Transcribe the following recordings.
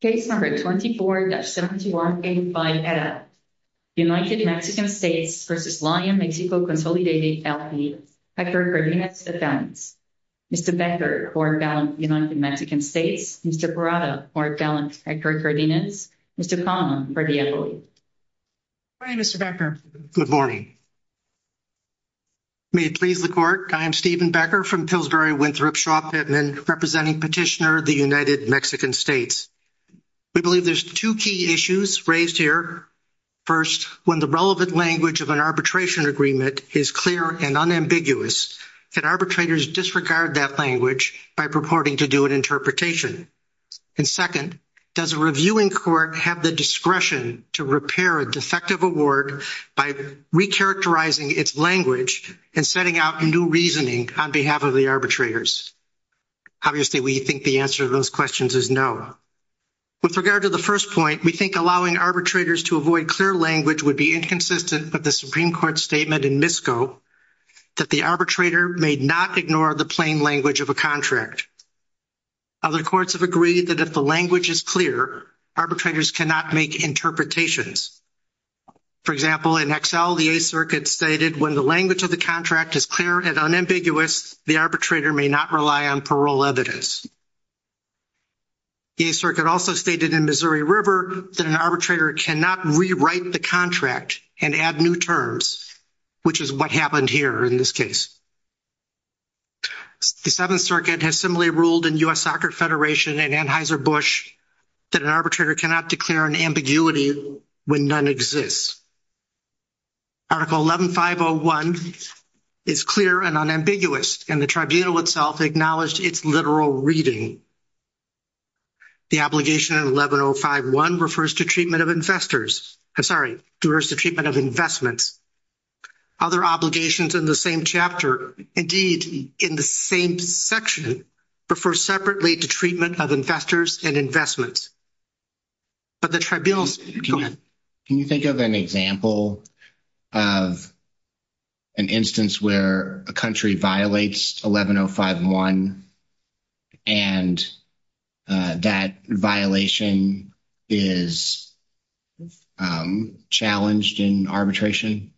Case number 24-7185. United Mexican States v. Lion Mexico Consolidated L.P. Hector Cardenas. Mr. Becker, court-balanced United Mexican States. Mr. Parada, court-balanced Hector Cardenas. Mr. Conlon, court-devoid. Good morning, Mr. Becker. Good morning. May it please the court, I am Stephen Becker from Pillsbury-Winthrop Shaw Pittman, representing Petitioner of the United Mexican States. We believe there's two key issues raised here. First, when the relevant language of an arbitration agreement is clear and unambiguous, can arbitrators disregard that language by purporting to do an interpretation? And second, does a reviewing court have the discretion to repair a defective award by recharacterizing its language and setting out new reasoning on behalf of the arbitrators? Obviously, we think the answer to those questions is no. With regard to the first point, we think allowing arbitrators to avoid clear language would be inconsistent with the Supreme Court statement in MISCO that the arbitrator may not ignore the plain language of a contract. Other courts have agreed that if the language is clear, arbitrators cannot make interpretations. For example, in Excel, the Eighth Circuit stated when the language of the contract is clear and unambiguous, the arbitrator may not rely on parole evidence. The Eighth Circuit also stated in Missouri River that an arbitrator cannot rewrite the contract and add new terms, which is what happened here in this case. The Seventh Circuit has similarly ruled in U.S. Soccer Federation and Anheuser-Busch that an arbitrator cannot declare an ambiguity when none exists. Article 11501 is clear and unambiguous, and the Tribunal itself acknowledged its literal reading. The obligation in 11051 refers to treatment of investors, I'm sorry, refers to treatment of investments. Other obligations in the same chapter, indeed, in the same section, refer separately to treatment of investors and investments. But the Tribunal's, go ahead. Can you think of an example of an instance where a country violates 11051 and that violation is challenged in arbitration?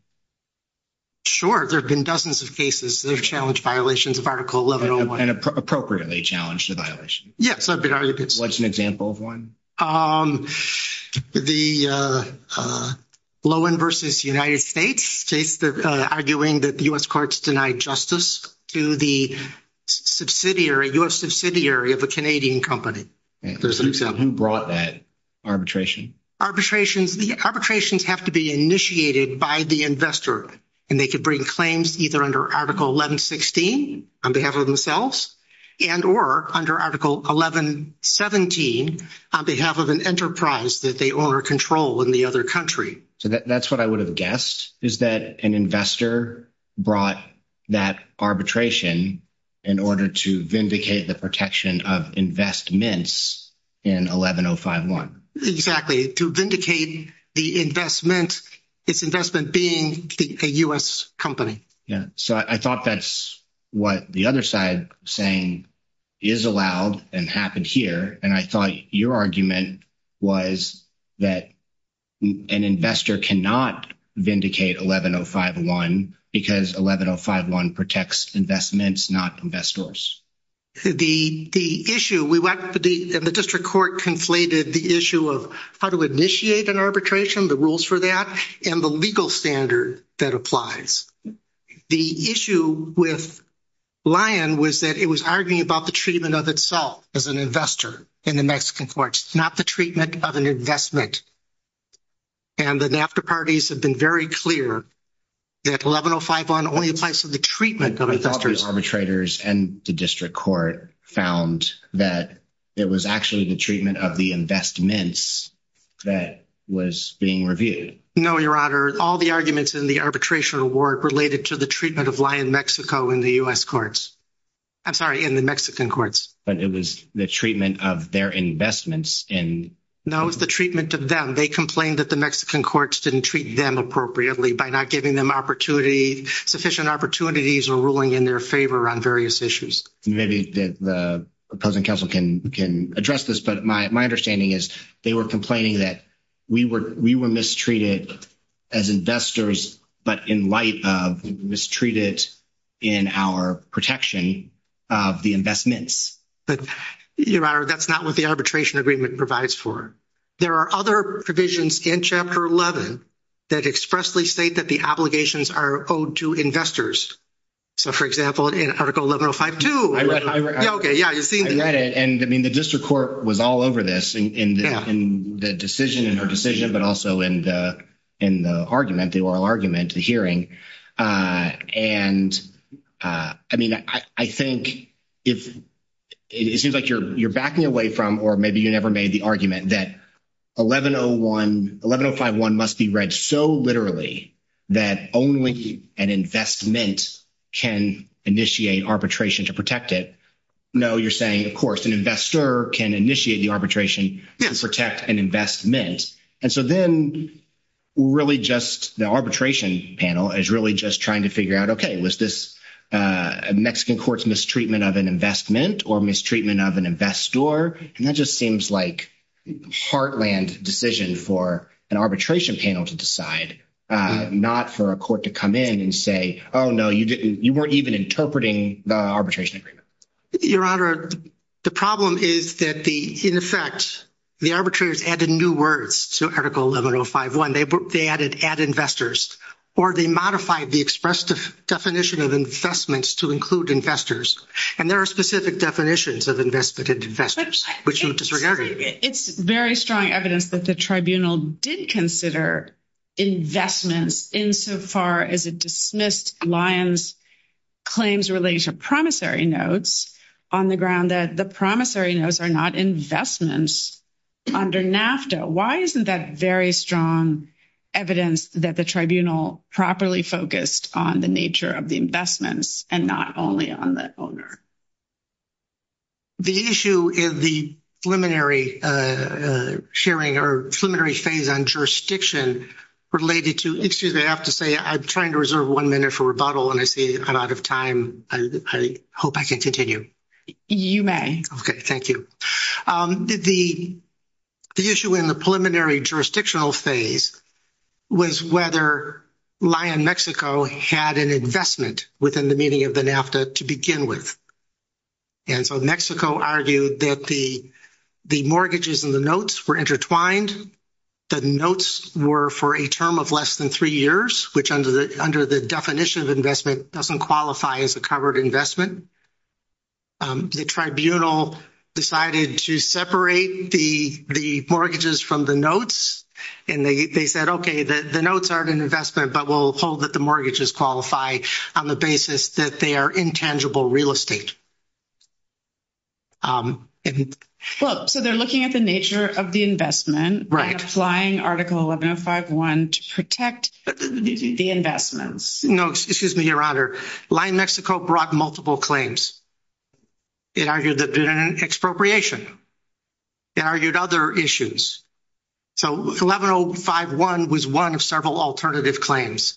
Sure, there have been dozens of cases that have challenged violations of Article 1101. And appropriately challenged a violation? Yes, there have been arguments. What's an example of one? The Lohan versus United States case, arguing that U.S. courts denied justice to the subsidiary, U.S. subsidiary of a Canadian company. Who brought that arbitration? Arbitrations have to be initiated by the investor, and they could bring claims either under Article 1116 on behalf of themselves and or under Article 1117 on behalf of an enterprise that they own or control in the other country. So that's what I would have guessed, is that an investor brought that arbitration in order to vindicate the protection of investments in 11051. Exactly, to vindicate the investment, its investment being a U.S. company. Yeah, so I thought that's what the other side saying is allowed and happened here. And I thought your argument was that an investor cannot vindicate 11051 because 11051 protects investments, not investors. The issue we went to the district court conflated the issue of how to initiate an arbitration, the rules for that, and the legal standard that applies. The issue with Lyon was that it was arguing about the treatment of itself as an investor in the Mexican courts, not the treatment of an investment. And the NAFTA parties have been very clear that 11051 only applies to the treatment of investors. The arbitrators and the district court found that it was actually the treatment of the investments that was being reviewed. No, your honor, all the arguments in the arbitration award related to the treatment of Lyon, Mexico in the U.S. courts. I'm sorry, in the Mexican courts. But it was the treatment of their investments. No, it was the treatment of them. They complained that the Mexican courts didn't treat them appropriately by not giving them opportunity, sufficient opportunities or ruling in their favor on various issues. Maybe the opposing counsel can address this, but my understanding is they were complaining that we were mistreated as investors, but in light of mistreated in our protection of the investments. But, your honor, that's not what the arbitration agreement provides for. There are other provisions in chapter 11 that expressly state that the obligations are owed to investors. So, for example, in article 11052. I read it. Okay, yeah, you've seen it. And I mean, the district court was all over this in the decision, in her decision, but also in the argument, the oral argument, the hearing. And I mean, I think if it seems like you're backing away from, or maybe you never made the argument that 1101, 11051 must be read so literally that only an investment can initiate arbitration to protect it. No, you're saying, of course, an investor can initiate the arbitration to protect an investment. And so then really just the arbitration panel is really just trying to figure out, okay, was this a Mexican court's mistreatment of an investment or mistreatment of an investor? And that just seems like heartland decision for an arbitration panel to decide, not for a court to come in and say, oh, no, you weren't even interpreting the arbitration agreement. Your Honor, the problem is that the, in effect, the arbitrators added new words to Article 11051. They added, add investors, or they modified the express definition of investments to include investors. And there are specific definitions of investment and investors, which would disregard it. It's very strong evidence that the tribunal did consider investments insofar as it dismissed Lyons claims related to promissory notes on the ground that the promissory notes are not investments under NAFTA. Why isn't that very strong evidence that the tribunal properly focused on the nature of the investments and not only on the owner? The issue is the preliminary sharing or preliminary phase on jurisdiction related to, excuse me, I have to say I'm trying to reserve one minute for rebuttal and I see I'm out of time. I hope I can continue. You may. Okay, thank you. The issue in the preliminary jurisdictional phase was whether Lyon, Mexico had an investment within the meaning of the NAFTA to begin with. And so Mexico argued that the mortgages and the notes were intertwined. The notes were for a term of less than three years, which under the definition of investment doesn't qualify as a covered investment. The tribunal decided to separate the mortgages from the notes and they said, okay, the notes aren't an investment, but we'll hold that the mortgages qualify on the basis that they are intangible real estate. Well, so they're looking at the nature of the investment, applying article 11051 to protect the investments. No, excuse me, Your Honor. Lyon, Mexico brought multiple claims. It argued that there had been an expropriation. It argued other issues. So 11051 was one of several alternative claims.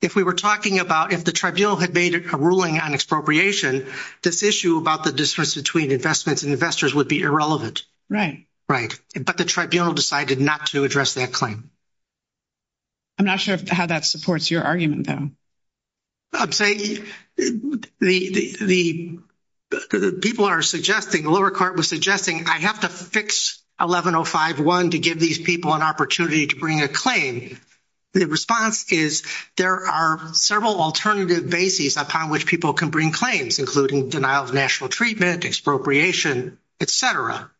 If we were talking about if the tribunal had made a ruling on expropriation, this issue about the difference between investments and investors would be irrelevant. Right. Right. But the tribunal decided not to address that claim. I'm not sure how that supports your argument, though. I'm saying the people are suggesting, the lower court was suggesting, I have to fix 11051 to give these people an opportunity to bring a claim. The response is there are several alternative bases upon which people can bring claims, including denial of national treatment, expropriation, et cetera.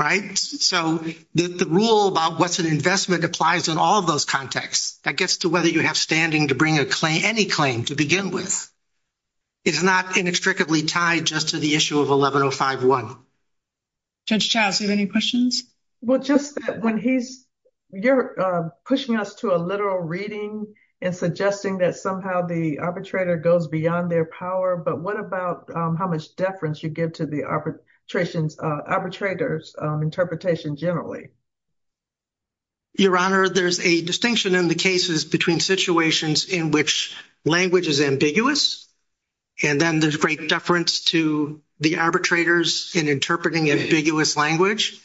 Right. So the rule about what's an investment applies in all of those contexts. That gets to whether you have standing to bring a claim, any claim to begin with. It's not inextricably tied just to the issue of 11051. Judge Childs, you have any questions? Well, just when he's, you're pushing us to a literal reading and suggesting that somehow the arbitrator goes beyond their power, but what about how much deference you give to the arbitrator's interpretation generally? Your Honor, there's a distinction in the cases between situations in which language is ambiguous, and then there's great deference to the arbitrators in interpreting ambiguous language,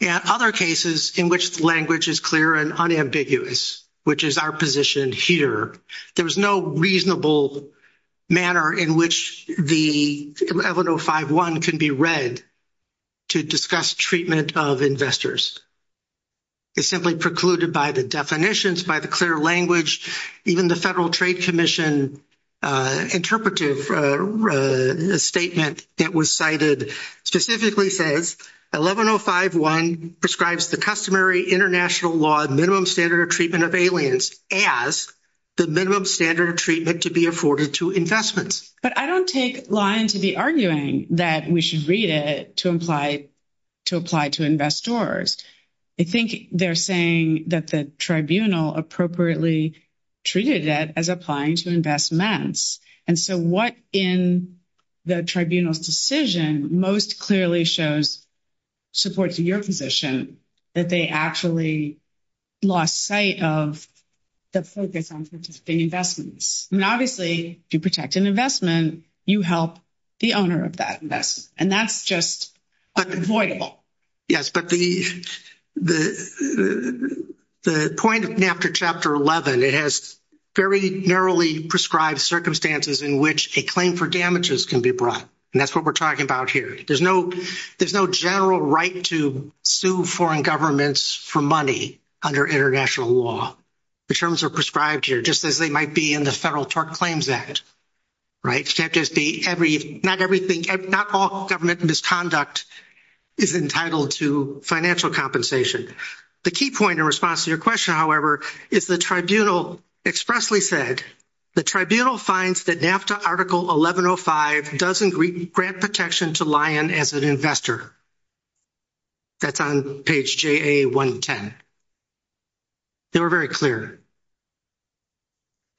and other cases in which the language is clear and unambiguous, which is our position here. There is no reasonable manner in which the 11051 can be read to discuss treatment of investors. It's simply precluded by the definitions, by the clear language, even the Federal Trade Commission interpretive statement that was cited specifically says 11051 prescribes the customary international law minimum standard of treatment of aliens as the minimum standard of treatment to be afforded to investments. But I don't take line to the arguing that we should read it to apply to investors. I think they're saying that the tribunal appropriately treated it as applying to investments, and so what in the tribunal's decision most clearly shows support to your position, that they actually lost sight of the focus on participating investments. And obviously, if you protect an investment, you help the owner of that investment, and that's just unavoidable. Yes, but the point of NAFTA Chapter 11, it has very narrowly prescribed circumstances in which a claim for damages can be brought, and that's what we're talking about here. There's no general right to sue foreign governments for money under international law. The terms are prescribed here, just as they might be in the Federal Tort Claims Act. Not all government misconduct is entitled to financial compensation. The key point in response to your question, however, is the tribunal expressly said, the tribunal finds that NAFTA Article 1105 doesn't grant protection to lion as an investor. That's on page JA 110. They were very clear.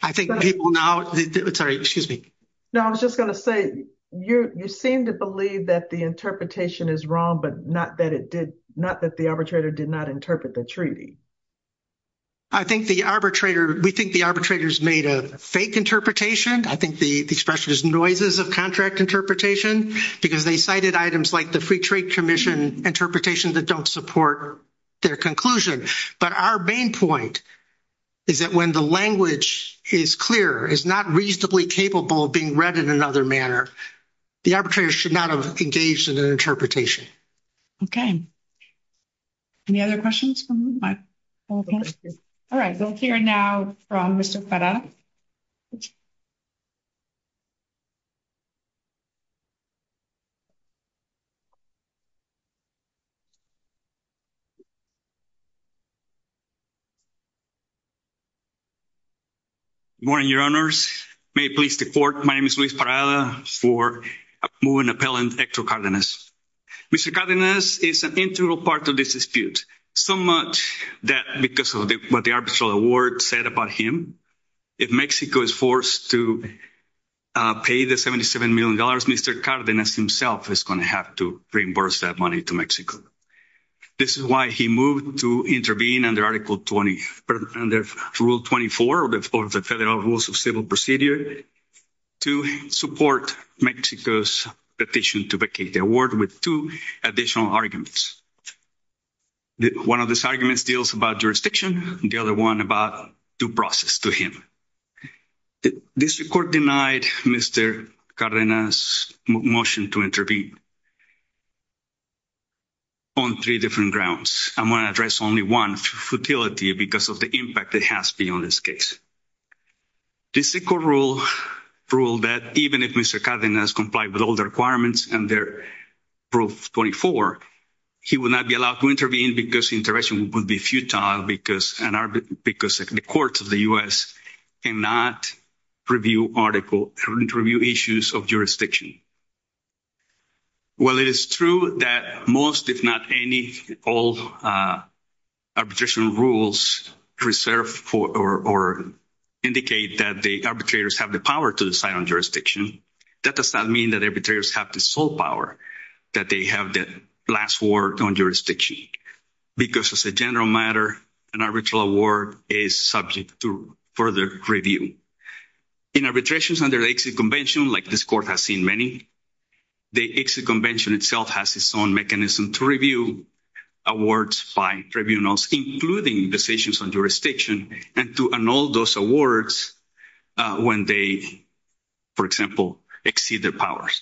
I think people now, sorry, excuse me. No, I was just going to say, you seem to believe that the interpretation is wrong, but not that it did, not that the arbitrator did not interpret the treaty. I think the arbitrator, we think the arbitrators made a fake interpretation. I think the expression is noises of contract interpretation, because they cited items like the Free Trade Commission interpretation that don't support their conclusion. But our main point is that when the language is clear, is not reasonably capable of being read in another manner, the arbitrator should not have engaged in an interpretation. Okay. Any other questions? All right. We'll hear now from Mr. Parada. Good morning, your honors. May it please the court. My name is Luis Parada for moving appellant Hector Cardenas. Mr. Cardenas is an integral part of this dispute. So much that because of what the arbitral award said about him, if Mexico is forced to pay the 77 million dollars, Mr. Cardenas himself is going to have to reimburse that money to Mexico. This is why he moved to intervene under Article 20, but under Rule 24 of the Federal Rules of Civil Procedure to support Mexico's petition to vacate the award with two additional arguments. One of these arguments deals about jurisdiction, the other one about due process to him. This court denied Mr. Cardenas' motion to intervene on three different grounds. I'm going to address only one, futility, because of the impact it has beyond this case. This court ruled that even if Mr. Cardenas complied with all the requirements under Rule 24, he would not be allowed to intervene because intervention would be futile because the courts of the U.S. cannot review issues of jurisdiction. While it is true that most, if not all, arbitration rules reserve or indicate that the arbitrators have the power to decide on jurisdiction, that does not mean that arbitrators have the sole power that they have the last word on jurisdiction, because as a general matter, an arbitral award is subject to further review. In arbitrations under the Exit Convention, like this court has seen many, the Exit Convention itself has its own mechanism to review awards by tribunals, including decisions on jurisdiction, and to annul those awards when they, for example, exceed their powers.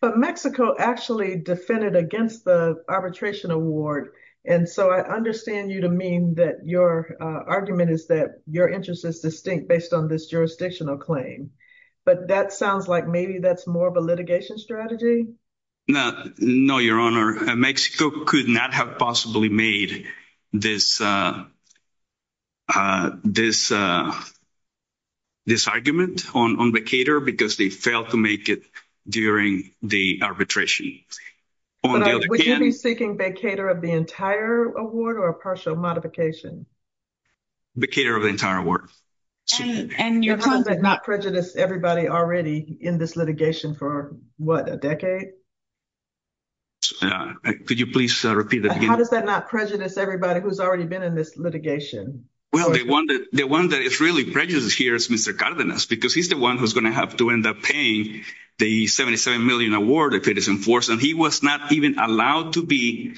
But Mexico actually defended against the arbitration award, and so I understand you to mean that your argument is that your interest is distinct based on this jurisdictional claim, but that sounds like maybe that's more of a litigation strategy? No, no, Your Honor. Mexico could not have possibly made this argument on vacator because they failed to make it during the arbitration. Would you be seeking vacator of the entire award or a partial modification? Vacator of the entire award. And Your Honor, does that not prejudice everybody already in this litigation for, what, a decade? Could you please repeat the beginning? How does that not prejudice everybody who's already been in this litigation? Well, the one that is really prejudiced here is Mr. Cardenas because he's the one who's going to have to end up paying the $77 million award if it is enforced, and he was not even allowed to be—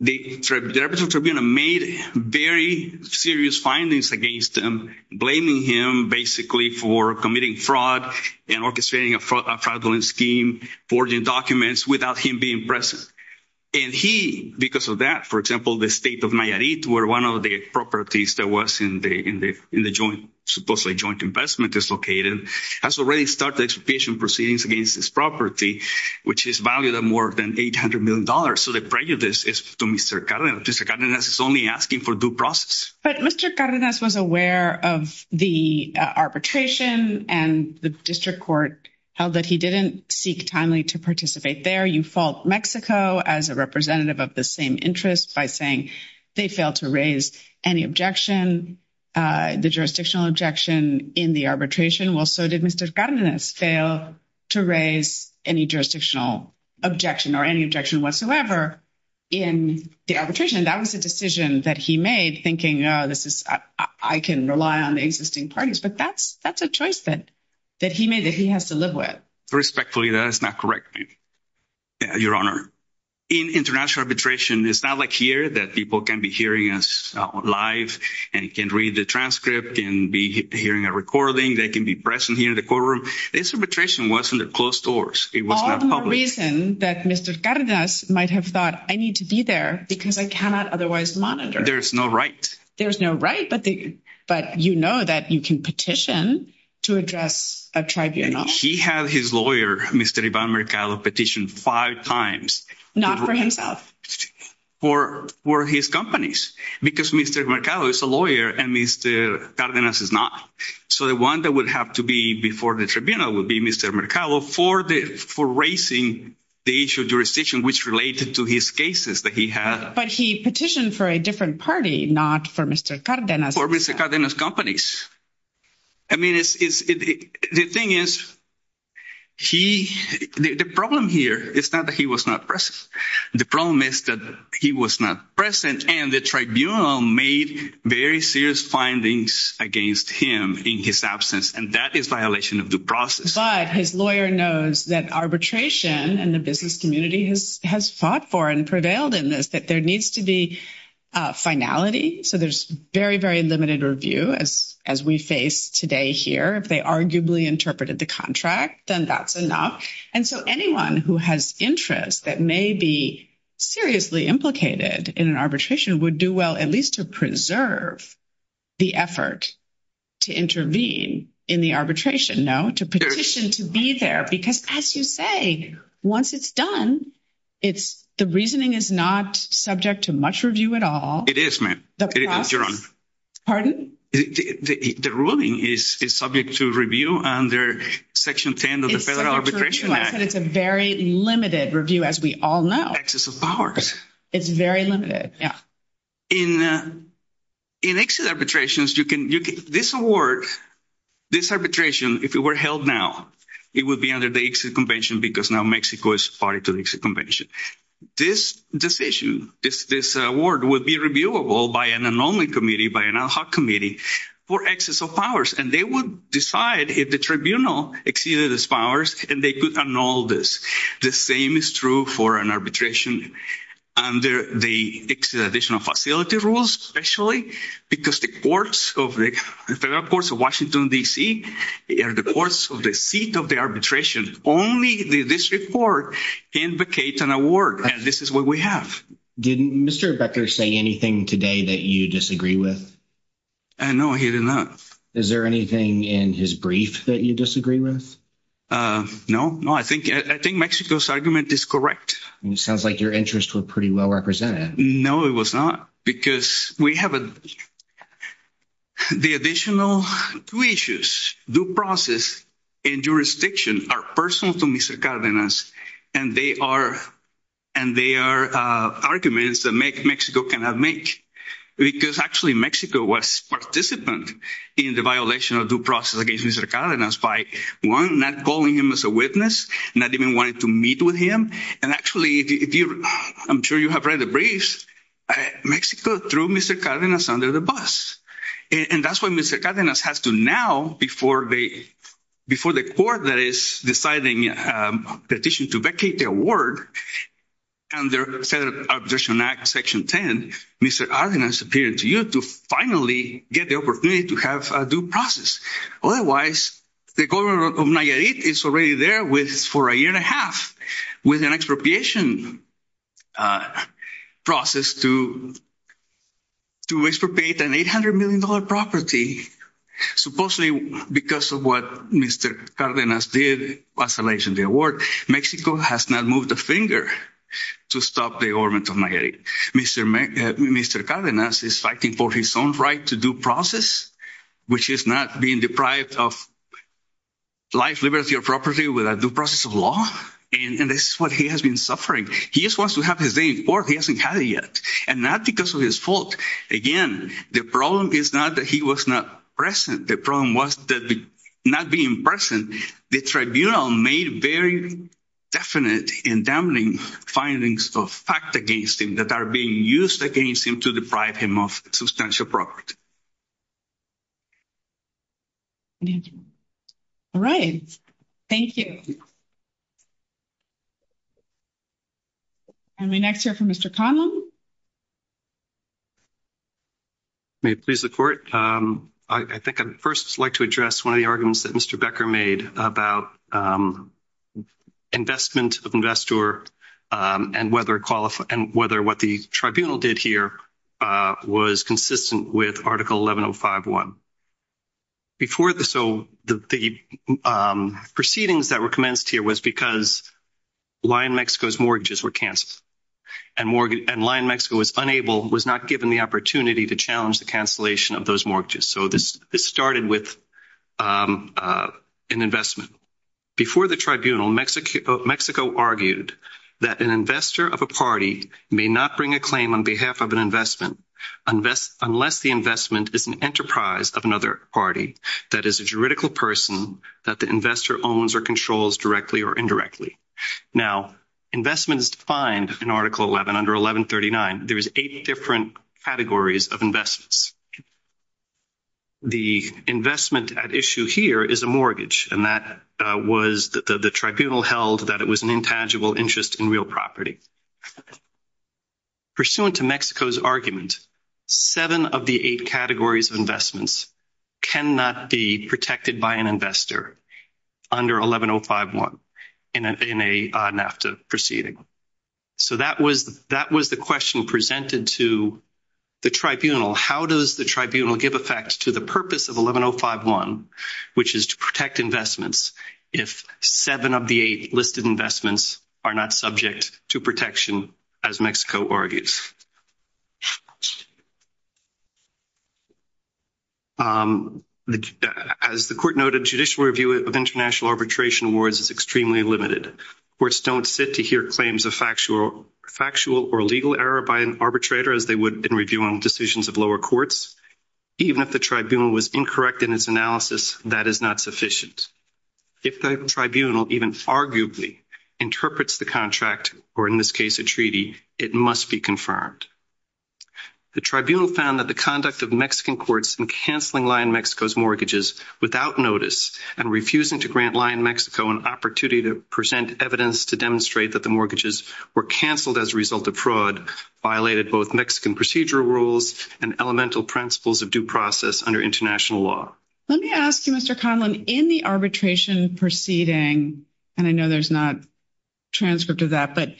the representatives of the tribunal made very serious findings against him, blaming him basically for committing fraud and orchestrating a fraudulent scheme, forging documents without him being present. And he, because of that, for example, the state of Nayarit, where one of the properties that was in the joint, supposedly joint investment is located, has already started expropriation proceedings against this property, which is valued at more than $800 million. So the prejudice is to Mr. Cardenas. Mr. Cardenas is only asking for due process. But Mr. Cardenas was aware of the arbitration and the district court held that he didn't seek timely to participate there. You fault Mexico as a representative of the same interest by saying they failed to raise any objection. The jurisdictional objection in the arbitration, well, so did Mr. Cardenas fail to raise any jurisdictional objection or any objection whatsoever in the arbitration. That was a decision that he made thinking, I can rely on the existing parties. But that's a choice that he made that he has to live with. Respectfully, that is not correct, Your Honor. In international arbitration, it's not like here that people can be hearing us live and can read the transcript, can be hearing a recording, they can be present here in the courtroom. This arbitration was under closed doors. It was not public. All the more reason that Mr. Cardenas might have thought, I need to be there because I cannot otherwise monitor. There's no right. There's no right, but you know that you can petition to address a tribunal. He had his lawyer, Mr. Ivan Mercado, petitioned five times. Not for himself. For his companies. Because Mr. Mercado is a lawyer and Mr. Cardenas is not. So the one that would have to be before the tribunal would be Mr. Mercado for raising the issue of jurisdiction, which related to his cases that he had. But he petitioned for a different party, not for Mr. Cardenas. For Mr. Cardenas' companies. I mean, the thing is, the problem here is not that he was not present. The problem is that he was not present. And the tribunal made very serious findings against him in his absence. And that is violation of due process. But his lawyer knows that arbitration and the business community has fought for and prevailed in this, that there needs to be finality. So there's very, very limited review as we face today here. If they arguably interpreted the contract, then that's enough. And so anyone who has interest that may be seriously implicated in an arbitration would do well at least to preserve the effort to intervene in the arbitration, no? To petition to be there. Because as you say, once it's done, the reasoning is not subject to much review at all. It is, ma'am. Pardon? The ruling is subject to review under section 10 of the federal arbitration. It's a very limited review, as we all know. It's very limited, yeah. In exit arbitrations, this award, this arbitration, if it were held now, it would be under the exit convention because now Mexico is party to the exit convention. This decision, this award would be reviewable by an anomaly committee, by an ad hoc committee for excess of powers. And they would decide if the tribunal exceeded its powers and they could annul this. The same is true for an arbitration under the additional facility rules, especially because the courts of the federal courts of Washington, D.C., are the courts of the seat of the arbitration. Only the district court can vacate an award, and this is what we have. Didn't Mr. Becker say anything today that you disagree with? No, he did not. Is there anything in his brief that you disagree with? No, no, I think Mexico's argument is correct. Sounds like your interests were pretty well represented. No, it was not, because we have the additional two issues, due process and jurisdiction are personal to Mr. Cardenas, and they are arguments that Mexico cannot make. Because actually Mexico was participant in the violation of due process against Mr. Cardenas by, one, not calling him as a witness, not even wanting to meet with him. And actually, I'm sure you have read the briefs, Mexico threw Mr. Cardenas under the bus. And that's what Mr. Cardenas has to now, before the court that is deciding petition to vacate the award, under the Federal Arbitration Act, Section 10, Mr. Cardenas appeared to you to finally get the opportunity to have a due process. Otherwise, the government of Nayarit is already there for a year and a half with an expropriation process to expropriate an $800 million property. Supposedly, because of what Mr. Cardenas did, isolation of the award, Mexico has not moved a finger to stop the government of Nayarit. Mr. Cardenas is fighting for his own right to due process, which is not being deprived of life, liberty, or property with a due process of law. And this is what he has been suffering. He just wants to have his day in court. He hasn't had it yet. And not because of his fault. Again, the problem is not that he was not present. The problem was that not being present, the tribunal made very definite and damning findings of fact against him that are being used against him to deprive him of substantial property. All right. Thank you. And we next hear from Mr. Conlon. May it please the court. I think I'd first like to address one of the arguments that Mr. Becker made about investment of investor and whether what the tribunal did here was consistent with Article 11051. Before the proceedings that were commenced here was because Lion Mexico's mortgages were canceled and Lion Mexico was unable, was not given the opportunity to challenge the cancellation of those mortgages. So this started with an investment. Before the tribunal, Mexico argued that an investor of a party may not bring a claim on behalf of an investment unless the investment is an enterprise of another party that is a juridical person that the investor owns or controls directly or indirectly. Now, investment is defined in Article 11 under 1139. There is eight different categories of investments. The investment at issue here is a mortgage. And that was the tribunal held that it was an intangible interest in real property. Pursuant to Mexico's argument, seven of the eight categories of investments cannot be protected by an investor under 11051 in a NAFTA proceeding. So that was the question presented to the tribunal. How does the tribunal give effect to the purpose of 11051, which is to protect investments if seven of the eight listed investments are not subject to protection as Mexico argues? As the court noted, judicial review of international arbitration awards is extremely limited. Courts don't sit to hear claims of factual or legal error by an arbitrator as they would in reviewing decisions of lower courts. Even if the tribunal was incorrect in its analysis, that is not sufficient. If the tribunal even arguably interprets the contract, or in this case, a treaty, it must be confirmed. The tribunal found that the conduct of Mexican courts in cancelling Lyon-Mexico's mortgages without notice and refusing to grant Lyon-Mexico an opportunity to present evidence to demonstrate that the mortgages were canceled as a result of fraud violated both Mexican procedural rules and elemental principles of due process under international law. Let me ask you, Mr. Conlon, in the arbitration proceeding, and I know there's not a transcript of that, but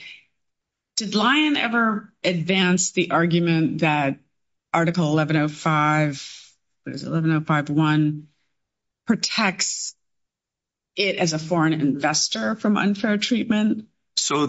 did Lyon ever advance the argument that Article 11051 protects it as a foreign investor from unfair treatment,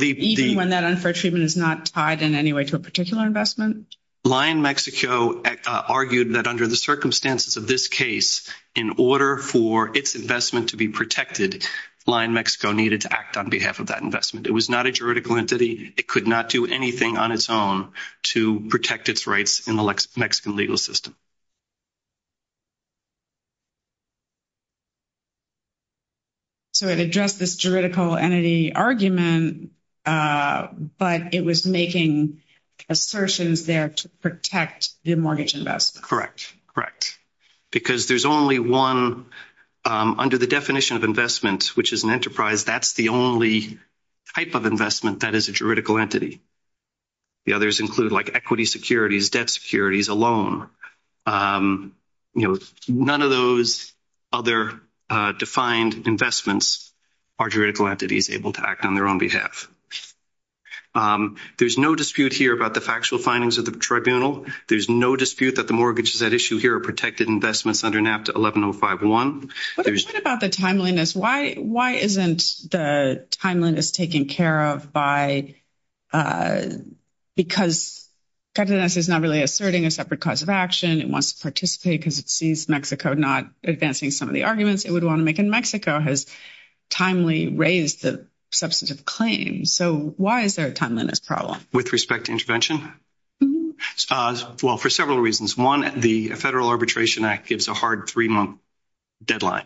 even when that unfair treatment is not tied in any way to a particular investment? Lyon-Mexico argued that under the circumstances of this case, in order for its investment to be protected, Lyon-Mexico needed to act on behalf of that investment. It was not a juridical entity. It could not do anything on its own to protect its rights in the Mexican legal system. So it addressed this juridical entity argument, but it was making assertions there to protect the mortgage investment. Correct. Correct. Because there's only one, under the definition of investment, which is an enterprise, that's the only type of investment that is a juridical entity. The others include like equity securities, debt securities, a loan. None of those other defined investments are juridical entities able to act on their own behalf. There's no dispute here about the factual findings of the tribunal. There's no dispute that the mortgages at issue here are protected investments under NAFTA 11051. What about the timeliness? Why isn't the timeliness taken care of by—because Cádenas is not really asserting a separate cause of action. It wants to participate because it sees Mexico not advancing some of the arguments it would want to make, and Mexico has timely raised the substantive claim. So why is there a timeliness problem? With respect to intervention? Well, for several reasons. One, the Federal Arbitration Act gives a hard three-month deadline.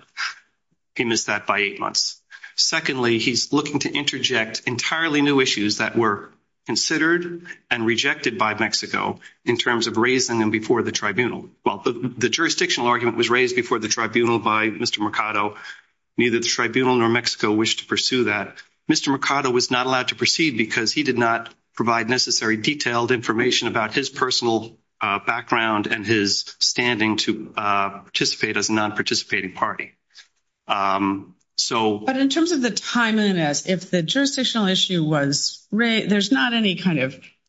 He missed that by eight months. Secondly, he's looking to interject entirely new issues that were considered and rejected by Mexico in terms of raising them before the tribunal. Well, the jurisdictional argument was raised before the tribunal by Mr. Mercado. Neither the tribunal nor Mexico wished to pursue that. Mr. Mercado was not allowed to proceed because he did not provide necessary detailed information about his personal background and his standing to participate as a non-participating party. So— But in terms of the timeliness, if the jurisdictional issue was—there's not any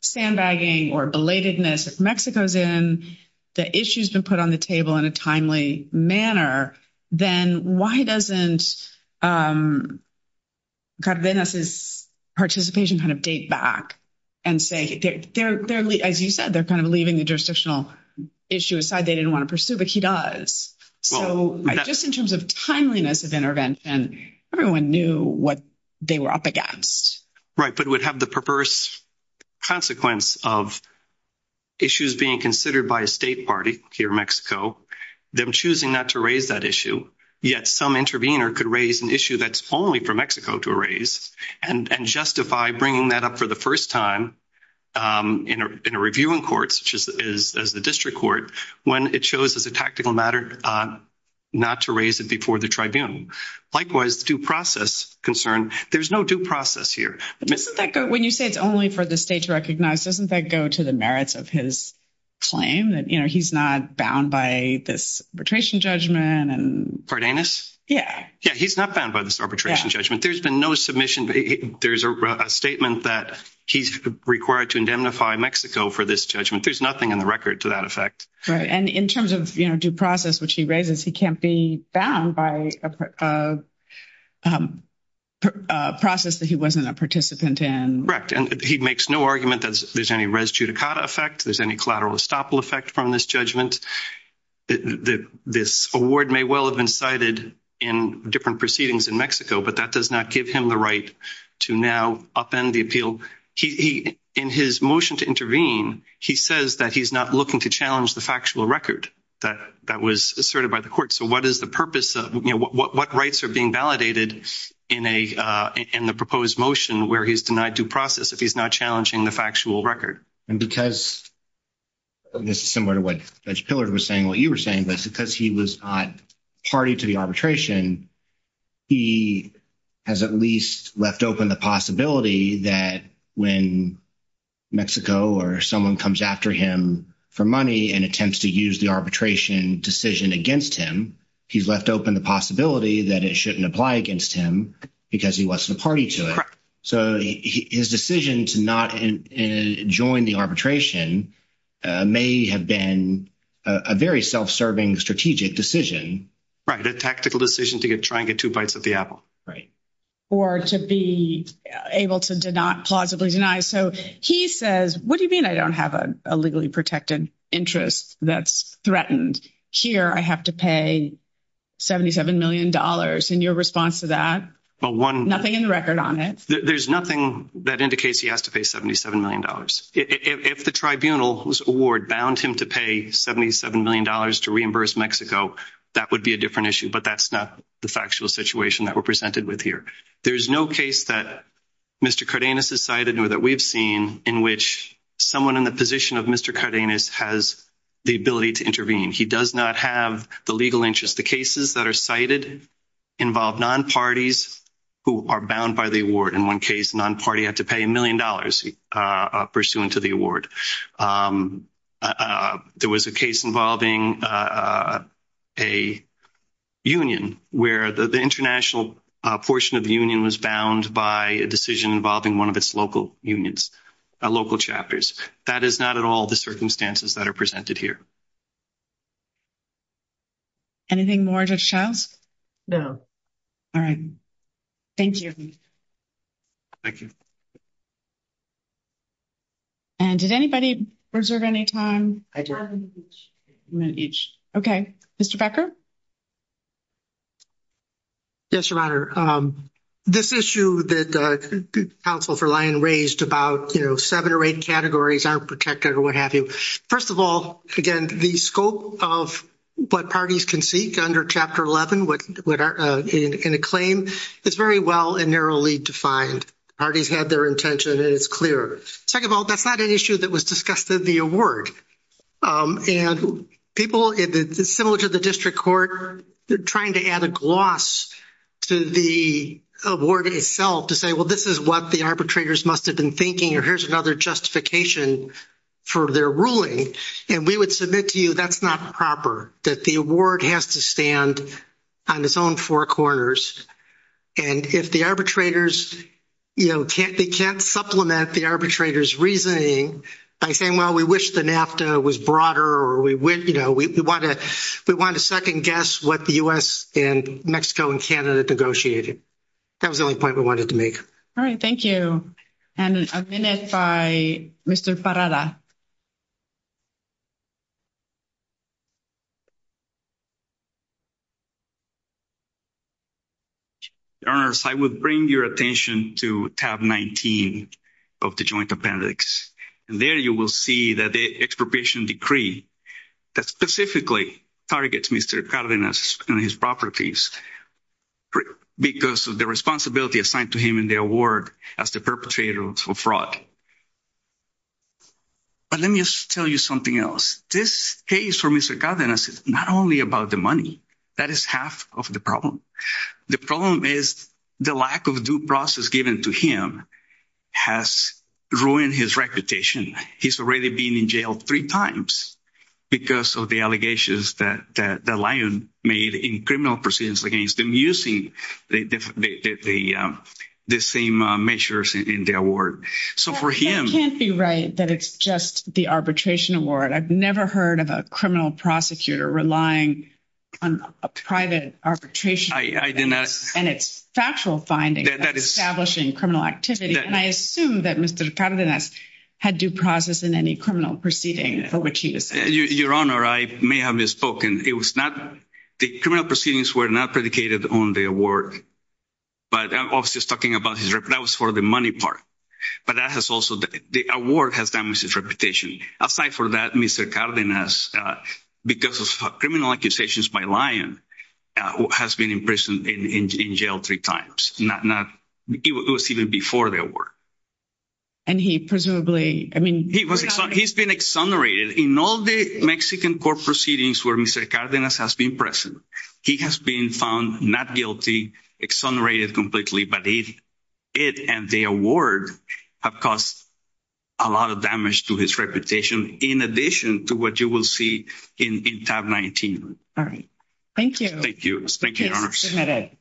sandbagging or belatedness. If Mexico's in, the issue's been put on the table in a timely manner, then why doesn't Cardenas' participation kind of date back and say—as you said, they're kind of leaving the jurisdictional issue aside. They didn't want to pursue, but he does. So just in terms of timeliness of intervention, everyone knew what they were up against. Right, but it would have the perverse consequence of issues being considered by a state party here in Mexico, them choosing not to raise that issue. Yet some intervener could raise an issue that's only for Mexico to raise and justify bringing that up for the first time in a reviewing court, such as the district court, when it shows as a tactical matter not to raise it before the tribunal. Likewise, the due process concern, there's no due process here. But doesn't that go—when you say it's only for the state to recognize, doesn't that go to the merits of his claim that, you know, he's not bound by this arbitration judgment and— Cardenas? Yeah. Yeah, he's not bound by this arbitration judgment. There's been no submission—there's a statement that he's required to indemnify Mexico for this judgment. There's nothing in the record to that effect. Right. And in terms of, you know, due process, which he raises, he can't be bound by a process that he wasn't a participant in. Correct. And he makes no argument that there's any res judicata effect, there's any collateral estoppel effect from this judgment. This award may well have been cited in different proceedings in Mexico, but that does not give him the right to now upend the appeal. He—in his motion to intervene, he says that he's not looking to challenge the factual record that was asserted by the court. So what is the purpose of—you know, what rights are being validated in the proposed motion where he's denied due process if he's not challenging the factual record? And because—this is similar to what Judge Pillard was saying, what you were saying, but because he was not party to the arbitration, he has at least left open the possibility that when Mexico or someone comes after him for money and attempts to use the arbitration decision against him, he's left open the possibility that it shouldn't apply against him because he wasn't a party to it. Correct. So his decision to not join the arbitration may have been a very self-serving strategic decision. Right. A tactical decision to try and get two bites at the apple. Right. Or to be able to plausibly deny. So he says, what do you mean I don't have a legally protected interest that's threatened? Here, I have to pay $77 million. And your response to that? Well, one— Nothing in the record on it. There's nothing that indicates he has to pay $77 million. If the tribunal's award bound him to pay $77 million to reimburse Mexico, that would be a different issue. But that's not the factual situation that we're presented with here. There's no case that Mr. Cardenas has cited or that we've seen in which someone in the position of Mr. Cardenas has the ability to intervene. He does not have the legal interest. The cases that are cited involve non-parties who are bound by the award. In one case, a non-party had to pay $1 million pursuant to the award. There was a case involving a union where the international portion of the union was bound by a decision involving one of its local unions, local chapters. That is not at all the circumstances that are presented here. Anything more, Judge Shouse? No. All right. Thank you. Thank you. And did anybody reserve any time? I do. I have a minute each. A minute each. Okay. Mr. Becker? Yes, Your Honor. This issue that counsel for Lyon raised about, you know, seven or eight categories aren't protected or what have you. First of all, again, the scope of what parties can seek under Chapter 11 in a claim is very well and narrowly defined. Parties had their intention, and it's clear. Second of all, that's not an issue that was discussed in the award. And people, similar to the district court, they're trying to add a gloss to the award itself to say, well, this is what the arbitrators must have been thinking, or here's another justification for their ruling. And we would submit to you that's not proper, that the award has to stand on its own four corners. And if the arbitrators, you know, they can't supplement the arbitrators' reasoning by saying, well, we wish the NAFTA was broader or, you know, we want to second-guess what the U.S. and Mexico and Canada negotiated. That was the only point we wanted to make. All right. Thank you. And a minute by Mr. Parada. Your Honors, I would bring your attention to tab 19 of the joint appendix. And there you will see that the expropriation decree that specifically targets Mr. Cardenas and his properties because of the responsibility assigned to him in the award as the perpetrator of fraud. But let me just tell you something else. This case for Mr. Cardenas is not only about the money. That is half of the problem. The problem is the lack of due process given to him has ruined his reputation. He's already been in jail three times because of the allegations that the lion made in criminal proceedings against him using the same measures in the award. So for him— You can't be right that it's just the arbitration award. I've never heard of a criminal prosecutor relying on a private arbitration. I did not. And it's factual findings establishing criminal activity. And I assume that Mr. Cardenas had due process in any criminal proceeding for which he was— Your Honor, I may have misspoken. It was not—the criminal proceedings were not predicated on the award. But I was just talking about his—that was for the money part. But that has also—the award has damaged his reputation. Aside from that, Mr. Cardenas, because of criminal accusations by the lion, has been in prison and in jail three times. Not—it was even before the award. And he presumably—I mean— He was—he's been exonerated. In all the Mexican court proceedings where Mr. Cardenas has been present, he has been found not guilty, exonerated completely. But he—it and the award have caused a lot of damage to his reputation in addition to what you will see in tab 19. All right. Thank you. Thank you. Thank you, Your Honor. The case is submitted.